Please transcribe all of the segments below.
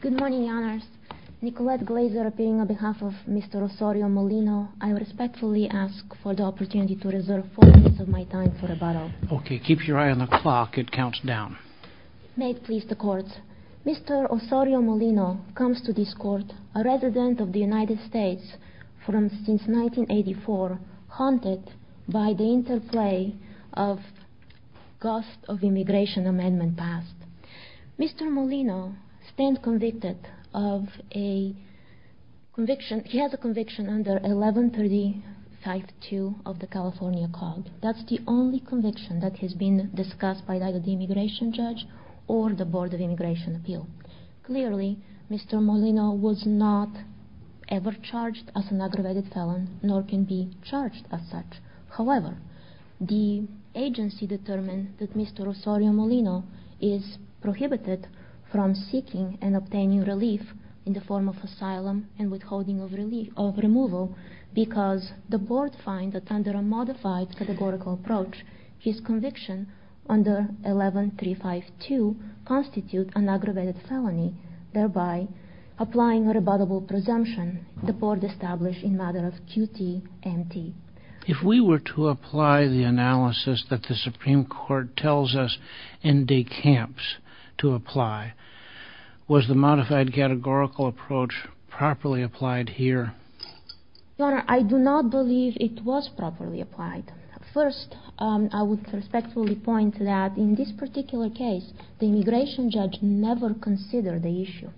Good morning, Your Honors. Nicolette Glaser appearing on behalf of Mr. Osorio-Molino, I respectfully ask for the opportunity to reserve four minutes of my time for rebuttal. Okay. Keep your eye on the clock. It counts down. May it please the Court, Mr. Osorio-Molino comes to this Court a resident of the United States since 1984 haunted by the interplay of gusts of immigration amendments passed. Mr. Molino stands convicted of a conviction. He has a conviction under 1135-2 of the California Code. That's the only conviction that has been discussed by either the immigration judge or the Board of Immigration Appeal. Clearly, Mr. Molino was not ever charged as an aggravated felon nor can be charged as such. However, the agency determined that Mr. Osorio-Molino is prohibited from seeking and obtaining relief in the form of asylum and withholding of removal because the Board finds that under a modified categorical approach, his conviction under 1135-2 constitutes an aggravated felony, thereby applying a rebuttable presumption the Board established in matter of QTMT. If we were to apply the analysis that the Supreme Court tells us in de camps to apply, was the modified categorical approach properly applied here? Your Honor, I do not believe it was properly applied. First, I would respectfully point that in this particular case, the immigration judge never considered the issue.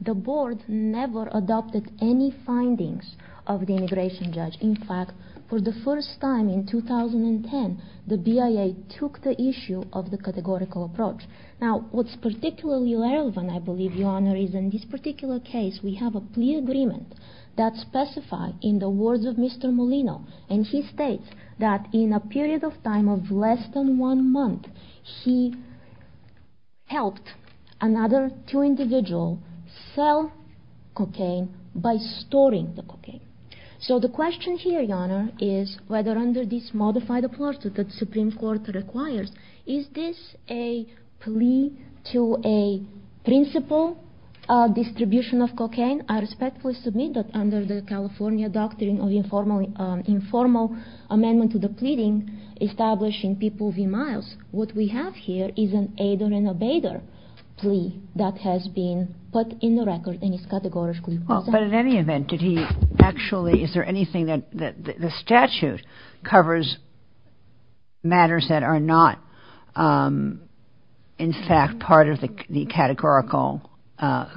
The Board never adopted any findings of the immigration judge. In fact, for the first time in 2010, the BIA took the issue of the categorical approach. Now, what's particularly relevant, I believe, Your Honor, is in this particular case, we have a plea agreement that specifies, in the words of Mr. Molino, and he states that in a period of time of less than one month, he helped another two individuals sell cocaine by storing the cocaine. So the question here, Your Honor, is whether under this modified approach that the Supreme Court requires, is this a plea to a principal distribution of cocaine? I respectfully submit that under the California Doctrine of Informal Amendment to the Pleading, establishing people v. Miles, what we have here is an aider and abater plea that has been put in the record and is categorically present. But in any event, did he actually, is there anything that the statute covers matters that are not, in fact, part of the categorical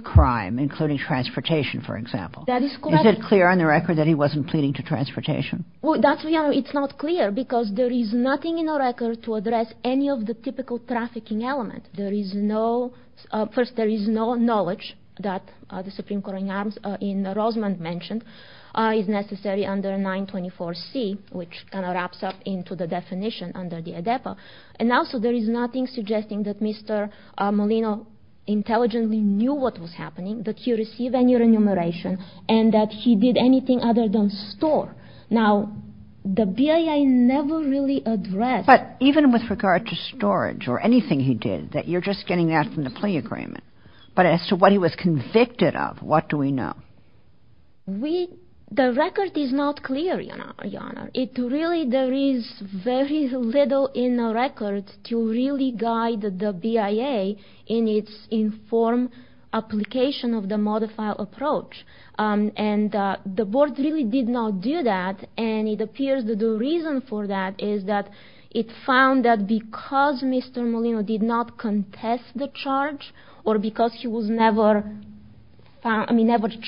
crime, including transportation, for example? That is correct. Is it clear on the record that he wasn't pleading to transportation? Well, that's, Your Honor, it's not clear because there is nothing in the record to address any of the typical trafficking element. First, there is no knowledge that the Supreme Court in Rosamond mentioned is necessary under 924C, which kind of wraps up into the definition under the ADEPA. And also, there is nothing suggesting that Mr. Molino intelligently knew what was happening, that he received any remuneration, and that he did anything other than store. Now, the BIA never really addressed that. But even with regard to storage or anything he did, that you're just getting that from the plea agreement, but as to what he was convicted of, what do we know? We, the record is not clear, Your Honor. It really, there is very little in the record to really guide the BIA in its informed application of the modified approach. And the board really did not do that. And it appears that the reason for that is that it found that because Mr. Molino did not contest the charge or because he was never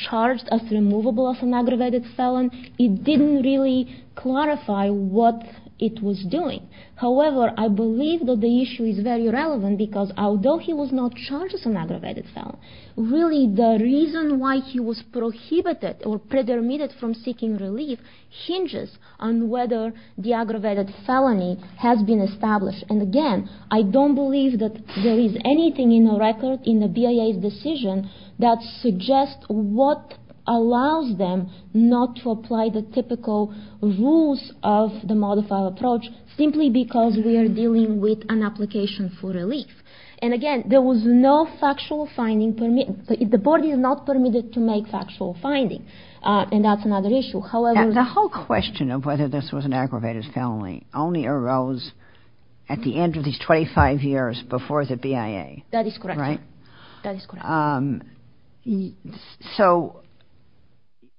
charged as removable as an aggravated felon, it didn't really clarify what it was doing. However, I believe that the issue is very relevant because although he was not charged as an aggravated felon, really the reason why he was prohibited or predetermined from seeking relief hinges on whether the aggravated felony has been established. And again, I don't believe that there is anything in the record, in the BIA's decision, that suggests what allows them not to apply the typical rules of the modified approach, simply because we are dealing with an application for relief. And again, there was no factual finding. The board is not permitted to make factual findings, and that's another issue. The whole question of whether this was an aggravated felony only arose at the end of these 25 years before the BIA. That is correct, Your Honor. Right? That is correct. So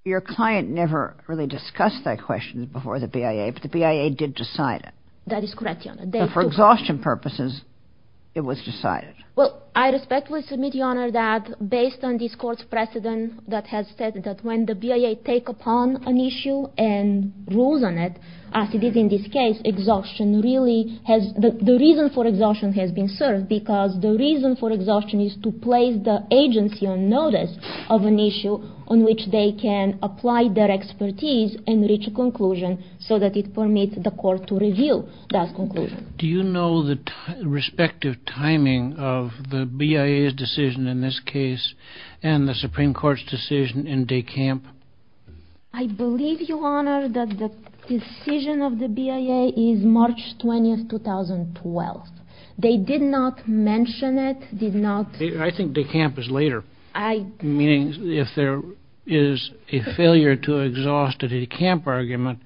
your client never really discussed that question before the BIA, but the BIA did decide it. That is correct, Your Honor. But for exhaustion purposes, it was decided. Well, I respectfully submit, Your Honor, that based on this Court's precedent that has said that when the BIA take upon an issue and rules on it, as it is in this case, exhaustion really has – the reason for exhaustion has been served, because the reason for exhaustion is to place the agency on notice of an issue on which they can apply their expertise and reach a conclusion so that it permits the Court to review that conclusion. Do you know the respective timing of the BIA's decision in this case and the Supreme Court's decision in de camp? I believe, Your Honor, that the decision of the BIA is March 20, 2012. They did not mention it, did not – I think de camp is later. I – Meaning if there is a failure to exhaust a de camp argument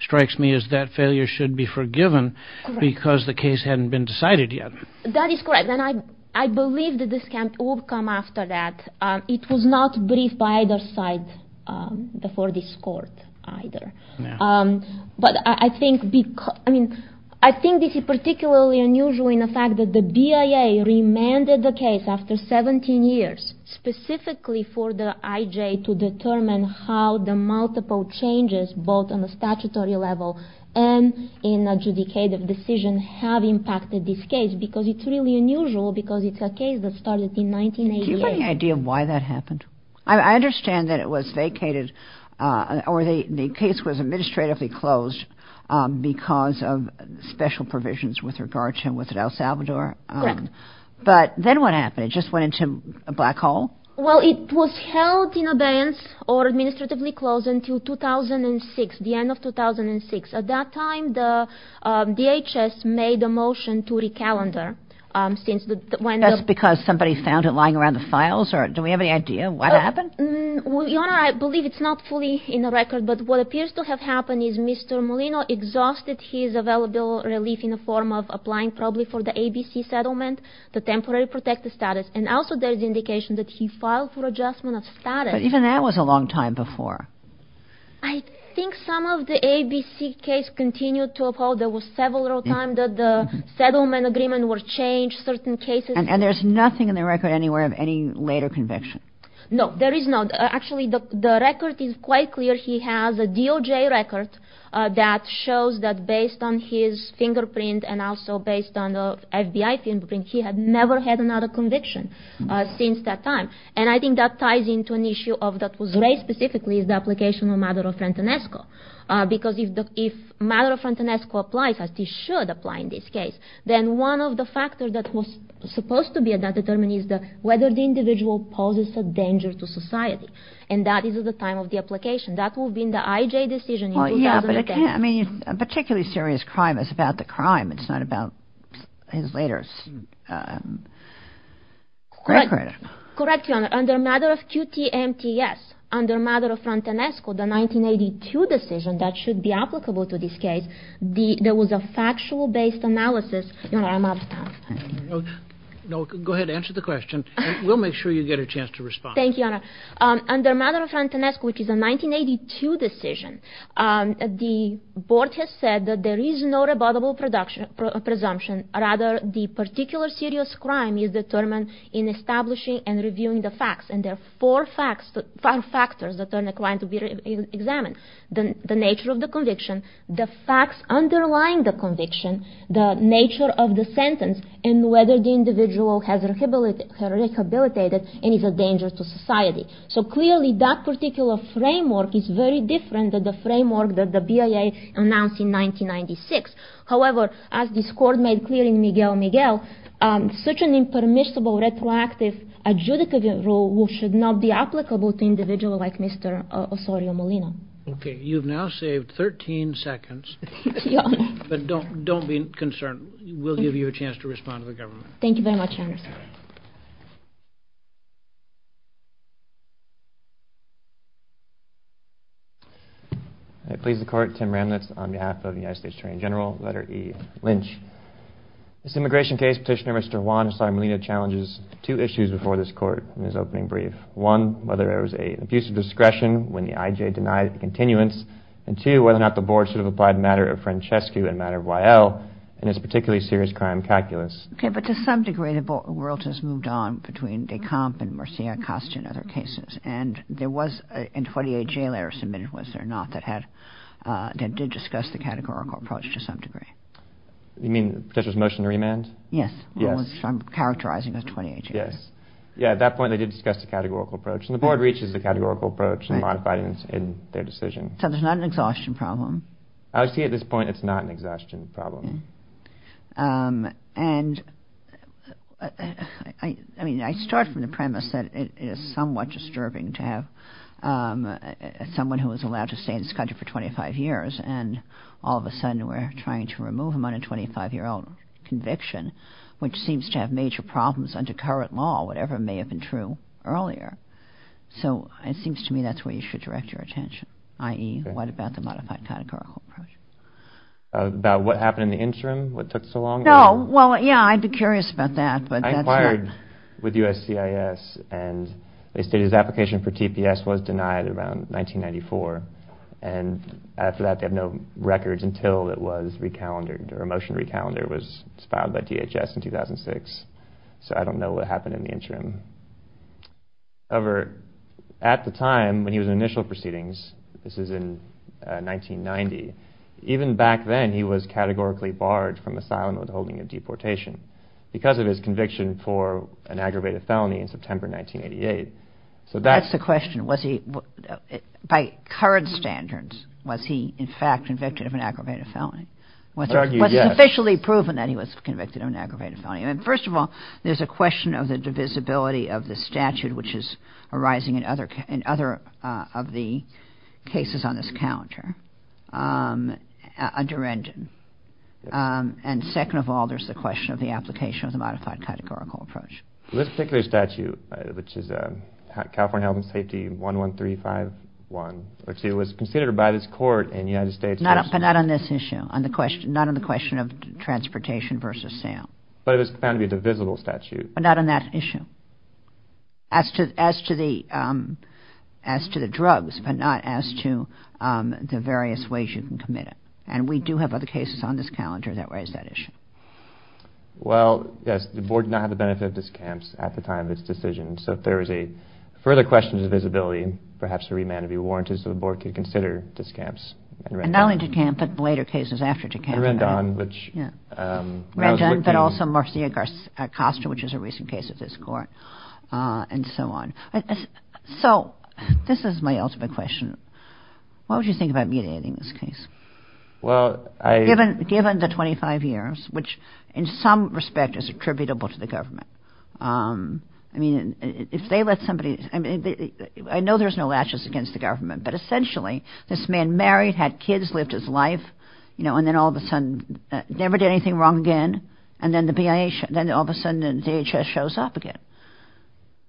strikes me as that failure should be forgiven because the case hadn't been decided yet. That is correct. And I believe that de camp will come after that. It was not briefed by either side before this Court either. But I think – I mean, I think this is particularly unusual in the fact that the BIA remanded the case after 17 years specifically for the IJ to determine how the multiple changes both on the statutory level and in adjudicative decision have impacted this case because it's really unusual because it's a case that started in 1988. Do you have any idea why that happened? I understand that it was vacated or the case was administratively closed because of special provisions with regard to El Salvador. Correct. But then what happened? It just went into a black hole? Well, it was held in abeyance or administratively closed until 2006, the end of 2006. At that time, the DHS made a motion to recalendar since the – Just because somebody found it lying around the files? Do we have any idea what happened? Your Honor, I believe it's not fully in the record. But what appears to have happened is Mr. Molino exhausted his available relief in the form of applying probably for the ABC settlement, the temporary protective status. And also there's indication that he filed for adjustment of status. But even that was a long time before. I think some of the ABC case continued to uphold. There was several times that the settlement agreement was changed, certain cases. And there's nothing in the record anywhere of any later conviction? No, there is not. Actually, the record is quite clear. He has a DOJ record that shows that based on his fingerprint and also based on the FBI fingerprint, he had never had another conviction since that time. And I think that ties into an issue of – that was raised specifically is the application of Maduro-Frentenesco. Because if Maduro-Frentenesco applies, as he should apply in this case, then one of the factors that was supposed to be determined is whether the individual poses a danger to society. And that is at the time of the application. That would have been the IJ decision in 2010. Well, yeah, but it can't – I mean, a particularly serious crime is about the crime. It's not about his later record. Correct, Your Honor. Under Maduro-Frentenesco, the 1982 decision that should be applicable to this case, there was a factual-based analysis – Your Honor, I'm out of time. No, go ahead. Answer the question. We'll make sure you get a chance to respond. Thank you, Your Honor. Under Maduro-Frentenesco, which is a 1982 decision, the board has said that there is no rebuttable presumption. Rather, the particular serious crime is determined in establishing and reviewing the facts. And there are four factors that are required to be examined. The nature of the conviction, the facts underlying the conviction, the nature of the sentence, and whether the individual has rehabilitated and is a danger to society. So clearly, that particular framework is very different than the framework that the BIA announced in 1996. However, as this Court made clear in Miguel Miguel, such an impermissible, retroactive, adjudicative rule should not be applicable to individuals like Mr. Osorio Molina. Okay. You've now saved 13 seconds. But don't be concerned. We'll give you a chance to respond to the government. Thank you very much, Your Honor. Thank you. I please the Court. Tim Ramnitz on behalf of the United States Attorney General. Letter E, Lynch. This immigration case, Petitioner Mr. Juan Osorio Molina challenges two issues before this Court in his opening brief. One, whether there was an abuse of discretion when the IJ denied the continuance. And two, whether or not the board should have applied the matter of Francesco and the matter of Wael in this particularly serious crime calculus. Okay. But to some degree, the world has moved on between de Camp and Marcia Acosta and other cases. And there was a 28-J letter submitted, was there not, that did discuss the categorical approach to some degree. You mean Petitioner's motion to remand? Yes. Yes. I'm characterizing as 28-J. Yes. Yeah. At that point, they did discuss the categorical approach. And the board reaches the categorical approach and modified it in their decision. So there's not an exhaustion problem. I would say at this point, it's not an exhaustion problem. And I mean, I start from the premise that it is somewhat disturbing to have someone who was allowed to stay in this country for 25 years and all of a sudden we're trying to remove him on a 25-year-old conviction, which seems to have major problems under current law, whatever may have been true earlier. So it seems to me that's where you should direct your attention, i.e., what about the modified categorical approach? About what happened in the interim, what took so long? No. Well, yeah, I'd be curious about that. I inquired with USCIS and they stated his application for TPS was denied around 1994. And after that, they have no records until it was recalendered or a motion to recalendar was filed by DHS in 2006. So I don't know what happened in the interim. However, at the time when he was in initial proceedings, this is in 1990, even back then he was categorically barred from asylum with holding of deportation because of his conviction for an aggravated felony in September 1988. So that's the question. By current standards, was he in fact convicted of an aggravated felony? Was it officially proven that he was convicted of an aggravated felony? First of all, there's a question of the divisibility of the statute, which is arising in other of the cases on this calendar, under engine. And second of all, there's the question of the application of the modified categorical approach. This particular statute, which is California Health and Safety 11351, which was considered by this court in the United States. But not on this issue, not on the question of transportation versus sale. But it was found to be a divisible statute. But not on that issue. As to the drugs, but not as to the various ways you can commit it. And we do have other cases on this calendar that raise that issue. Well, yes, the Board did not have the benefit of discounts at the time of its decision. So if there is a further question of divisibility, perhaps a remand would be warranted so the Board could consider discounts. And not only discounts, but later cases after discounts. Rendon, but also Marcia Acosta, which is a recent case of this court, and so on. So this is my ultimate question. What would you think about mediating this case? Given the 25 years, which in some respect is attributable to the government. I mean, if they let somebody, I know there's no latches against the government, but essentially, this man married, had kids, lived his life, and then all of a sudden never did anything wrong again. And then all of a sudden the DHS shows up again.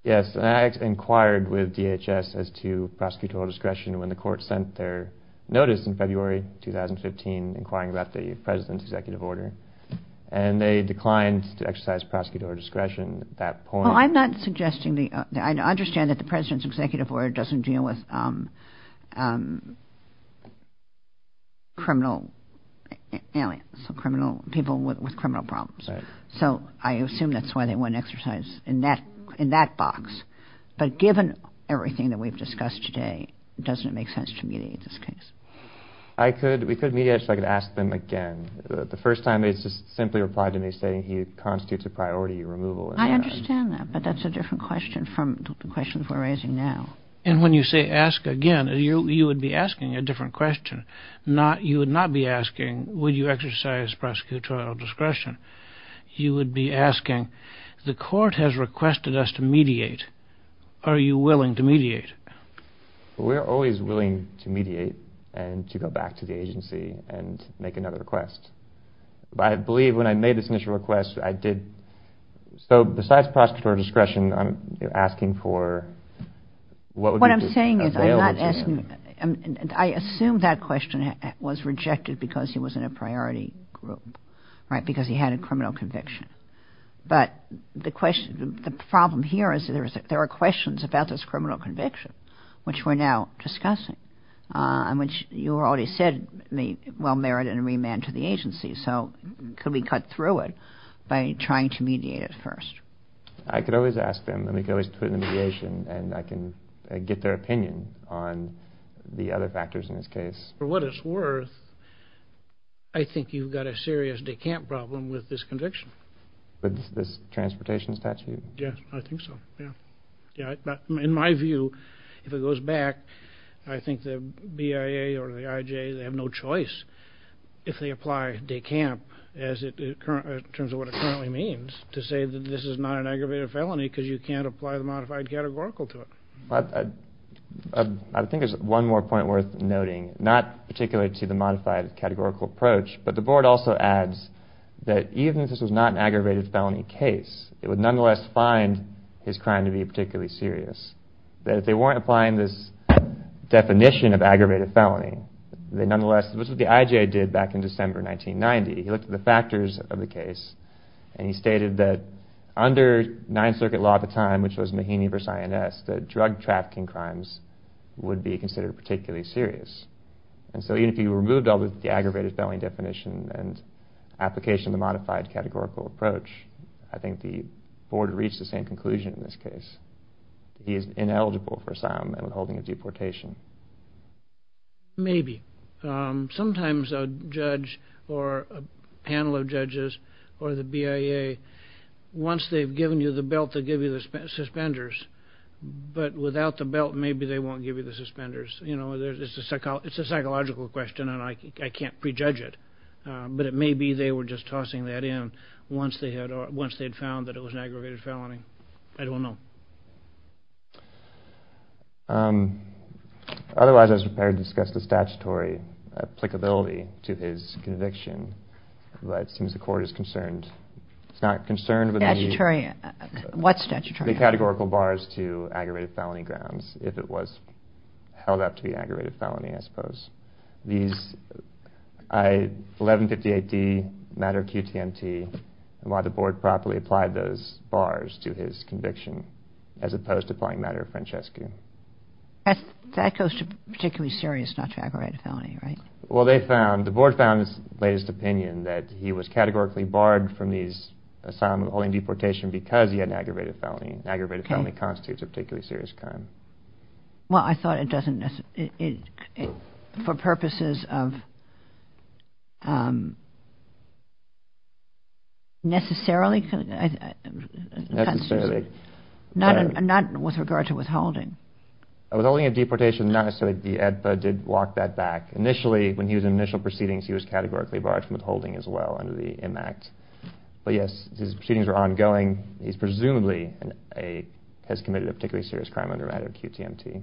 Yes, and I inquired with DHS as to prosecutorial discretion when the court sent their notice in February 2015, inquiring about the President's Executive Order. And they declined to exercise prosecutorial discretion at that point. Well, I'm not suggesting, I understand that the President's Executive Order doesn't deal with criminal, people with criminal problems. So I assume that's why they wouldn't exercise in that box. But given everything that we've discussed today, doesn't it make sense to mediate this case? We could mediate it if I could ask them again. The first time they simply replied to me saying he constitutes a priority removal. I understand that, but that's a different question from the questions we're raising now. And when you say ask again, you would be asking a different question. You would not be asking, would you exercise prosecutorial discretion? You would be asking, the court has requested us to mediate. Are you willing to mediate? We're always willing to mediate and to go back to the agency and make another request. I believe when I made this initial request, I did. So besides prosecutorial discretion, I'm asking for what would be available to them. What I'm saying is I'm not asking, I assume that question was rejected because he was in a priority group, right, because he had a criminal conviction. But the problem here is there are questions about this criminal conviction, which we're now discussing, and which you already said may well merit a remand to the agency. So could we cut through it by trying to mediate it first? I could always ask them and we could always put in a mediation and I can get their opinion on the other factors in this case. For what it's worth, I think you've got a serious decamp problem with this conviction. With this transportation statute? Yes, I think so, yeah. In my view, if it goes back, I think the BIA or the IJ, they have no choice, if they apply decamp in terms of what it currently means, to say that this is not an aggravated felony because you can't apply the modified categorical to it. I think there's one more point worth noting, not particularly to the modified categorical approach, but the Board also adds that even if this was not an aggravated felony case, it would nonetheless find his crime to be particularly serious. That if they weren't applying this definition of aggravated felony, they nonetheless, this is what the IJ did back in December 1990, he looked at the factors of the case and he stated that under 9th Circuit law at the time, which was Mahaney v. INS, that drug trafficking crimes would be considered particularly serious. And so even if you removed all the aggravated felony definition and application of the modified categorical approach, I think the Board would reach the same conclusion in this case. He is ineligible for asylum and withholding of deportation. Maybe. Sometimes a judge or a panel of judges or the BIA, once they've given you the belt, they'll give you the suspenders, but without the belt, maybe they won't give you the suspenders. It's a psychological question and I can't prejudge it, but it may be they were just tossing that in once they had found that it was an aggravated felony. I don't know. Otherwise, I was prepared to discuss the statutory applicability to his conviction, but it seems the Court is concerned. It's not concerned with the categorical bars to aggravated felony grounds, if it was held up to be an aggravated felony, I suppose. These 1158D, matter of QTMT, and why the Board properly applied those bars to his conviction, as opposed to applying matter of Francesco. That goes to particularly serious, not to aggravated felony, right? Well, they found, the Board found in its latest opinion, that he was categorically barred from these asylum and withholding deportation because he had an aggravated felony. An aggravated felony constitutes a particularly serious crime. Well, I thought it doesn't, for purposes of necessarily, not with regard to withholding. Withholding a deportation, not necessarily, the ADPA did walk that back. Initially, when he was in initial proceedings, he was categorically barred from withholding as well under the IMACT. Well, yes, his proceedings were ongoing. He presumably has committed a particularly serious crime under matter of QTMT.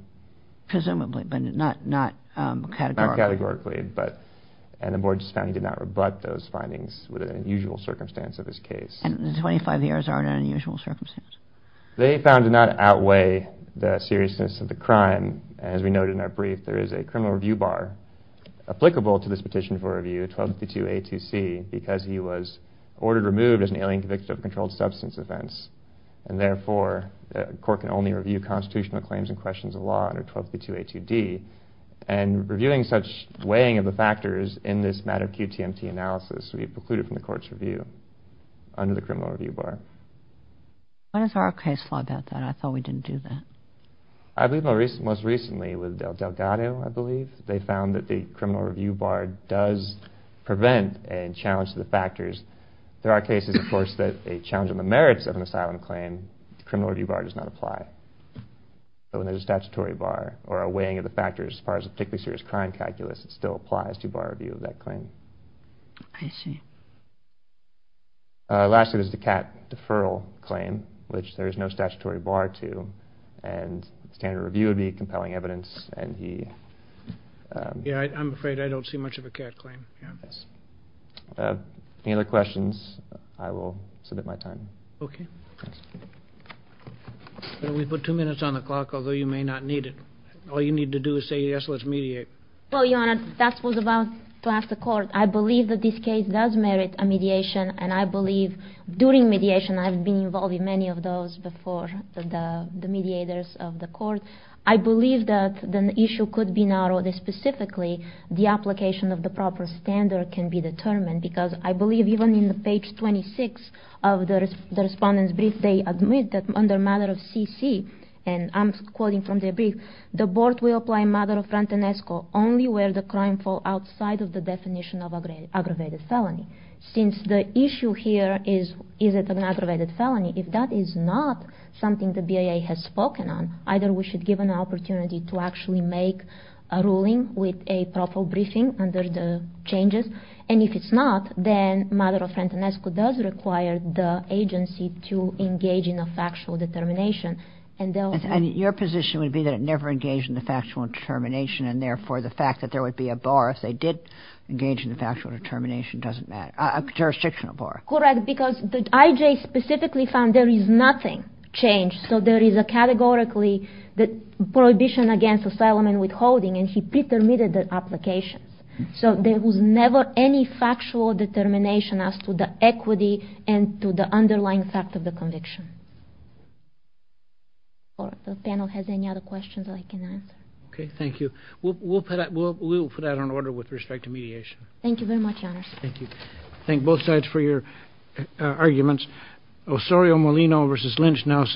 Presumably, but not categorically. Not categorically, and the Board just found he did not rebut those findings with an unusual circumstance of his case. And the 25 years are an unusual circumstance. They found to not outweigh the seriousness of the crime. As we noted in our brief, there is a criminal review bar applicable to this petition for review, 1252A2C, because he was ordered removed as an alien convicted of a controlled substance offense. And therefore, a court can only review constitutional claims and questions of law under 1252A2D. And reviewing such weighing of the factors in this matter of QTMT analysis, we precluded from the court's review under the criminal review bar. When is our case law about that? I thought we didn't do that. I believe most recently with Delgado, I believe, they found that the criminal review bar does prevent and challenge the factors. There are cases, of course, that a challenge on the merits of an asylum claim, the criminal review bar does not apply. So when there's a statutory bar or a weighing of the factors as far as a particularly serious crime calculus, it still applies to bar review of that claim. I see. Lastly, there's the CAT deferral claim, which there is no statutory bar to. And standard review would be compelling evidence. Yeah, I'm afraid I don't see much of a CAT claim. Any other questions? I will submit my time. Okay. We put two minutes on the clock, although you may not need it. All you need to do is say yes, let's mediate. Well, Your Honor, that was about to ask the court. I believe that this case does merit a mediation, and I believe during mediation, I've been involved in many of those before the mediators of the court. I believe that an issue could be narrowed, and specifically the application of the proper standard can be determined, because I believe even in the page 26 of the Respondent's Brief, they admit that under matter of CC, and I'm quoting from their brief, the board will apply matter of front and esco, only where the crime fall outside of the definition of aggravated felony. Since the issue here is, is it an aggravated felony? If that is not something the BIA has spoken on, either we should give an opportunity to actually make a ruling with a proper briefing under the changes, and if it's not, then matter of front and esco does require the agency to engage in a factual determination. And your position would be that it never engaged in the factual determination, and therefore the fact that there would be a bar if they did engage in the factual determination doesn't matter, a jurisdictional bar. Correct, because the IJ specifically found there is nothing changed, so there is a categorically the prohibition against asylum and withholding, and he pre-permitted the application. So there was never any factual determination as to the equity and to the underlying fact of the conviction. If the panel has any other questions, I can answer. Okay, thank you. We'll put that on order with respect to mediation. Thank you very much, Your Honors. Thank you. Thank both sides for your arguments.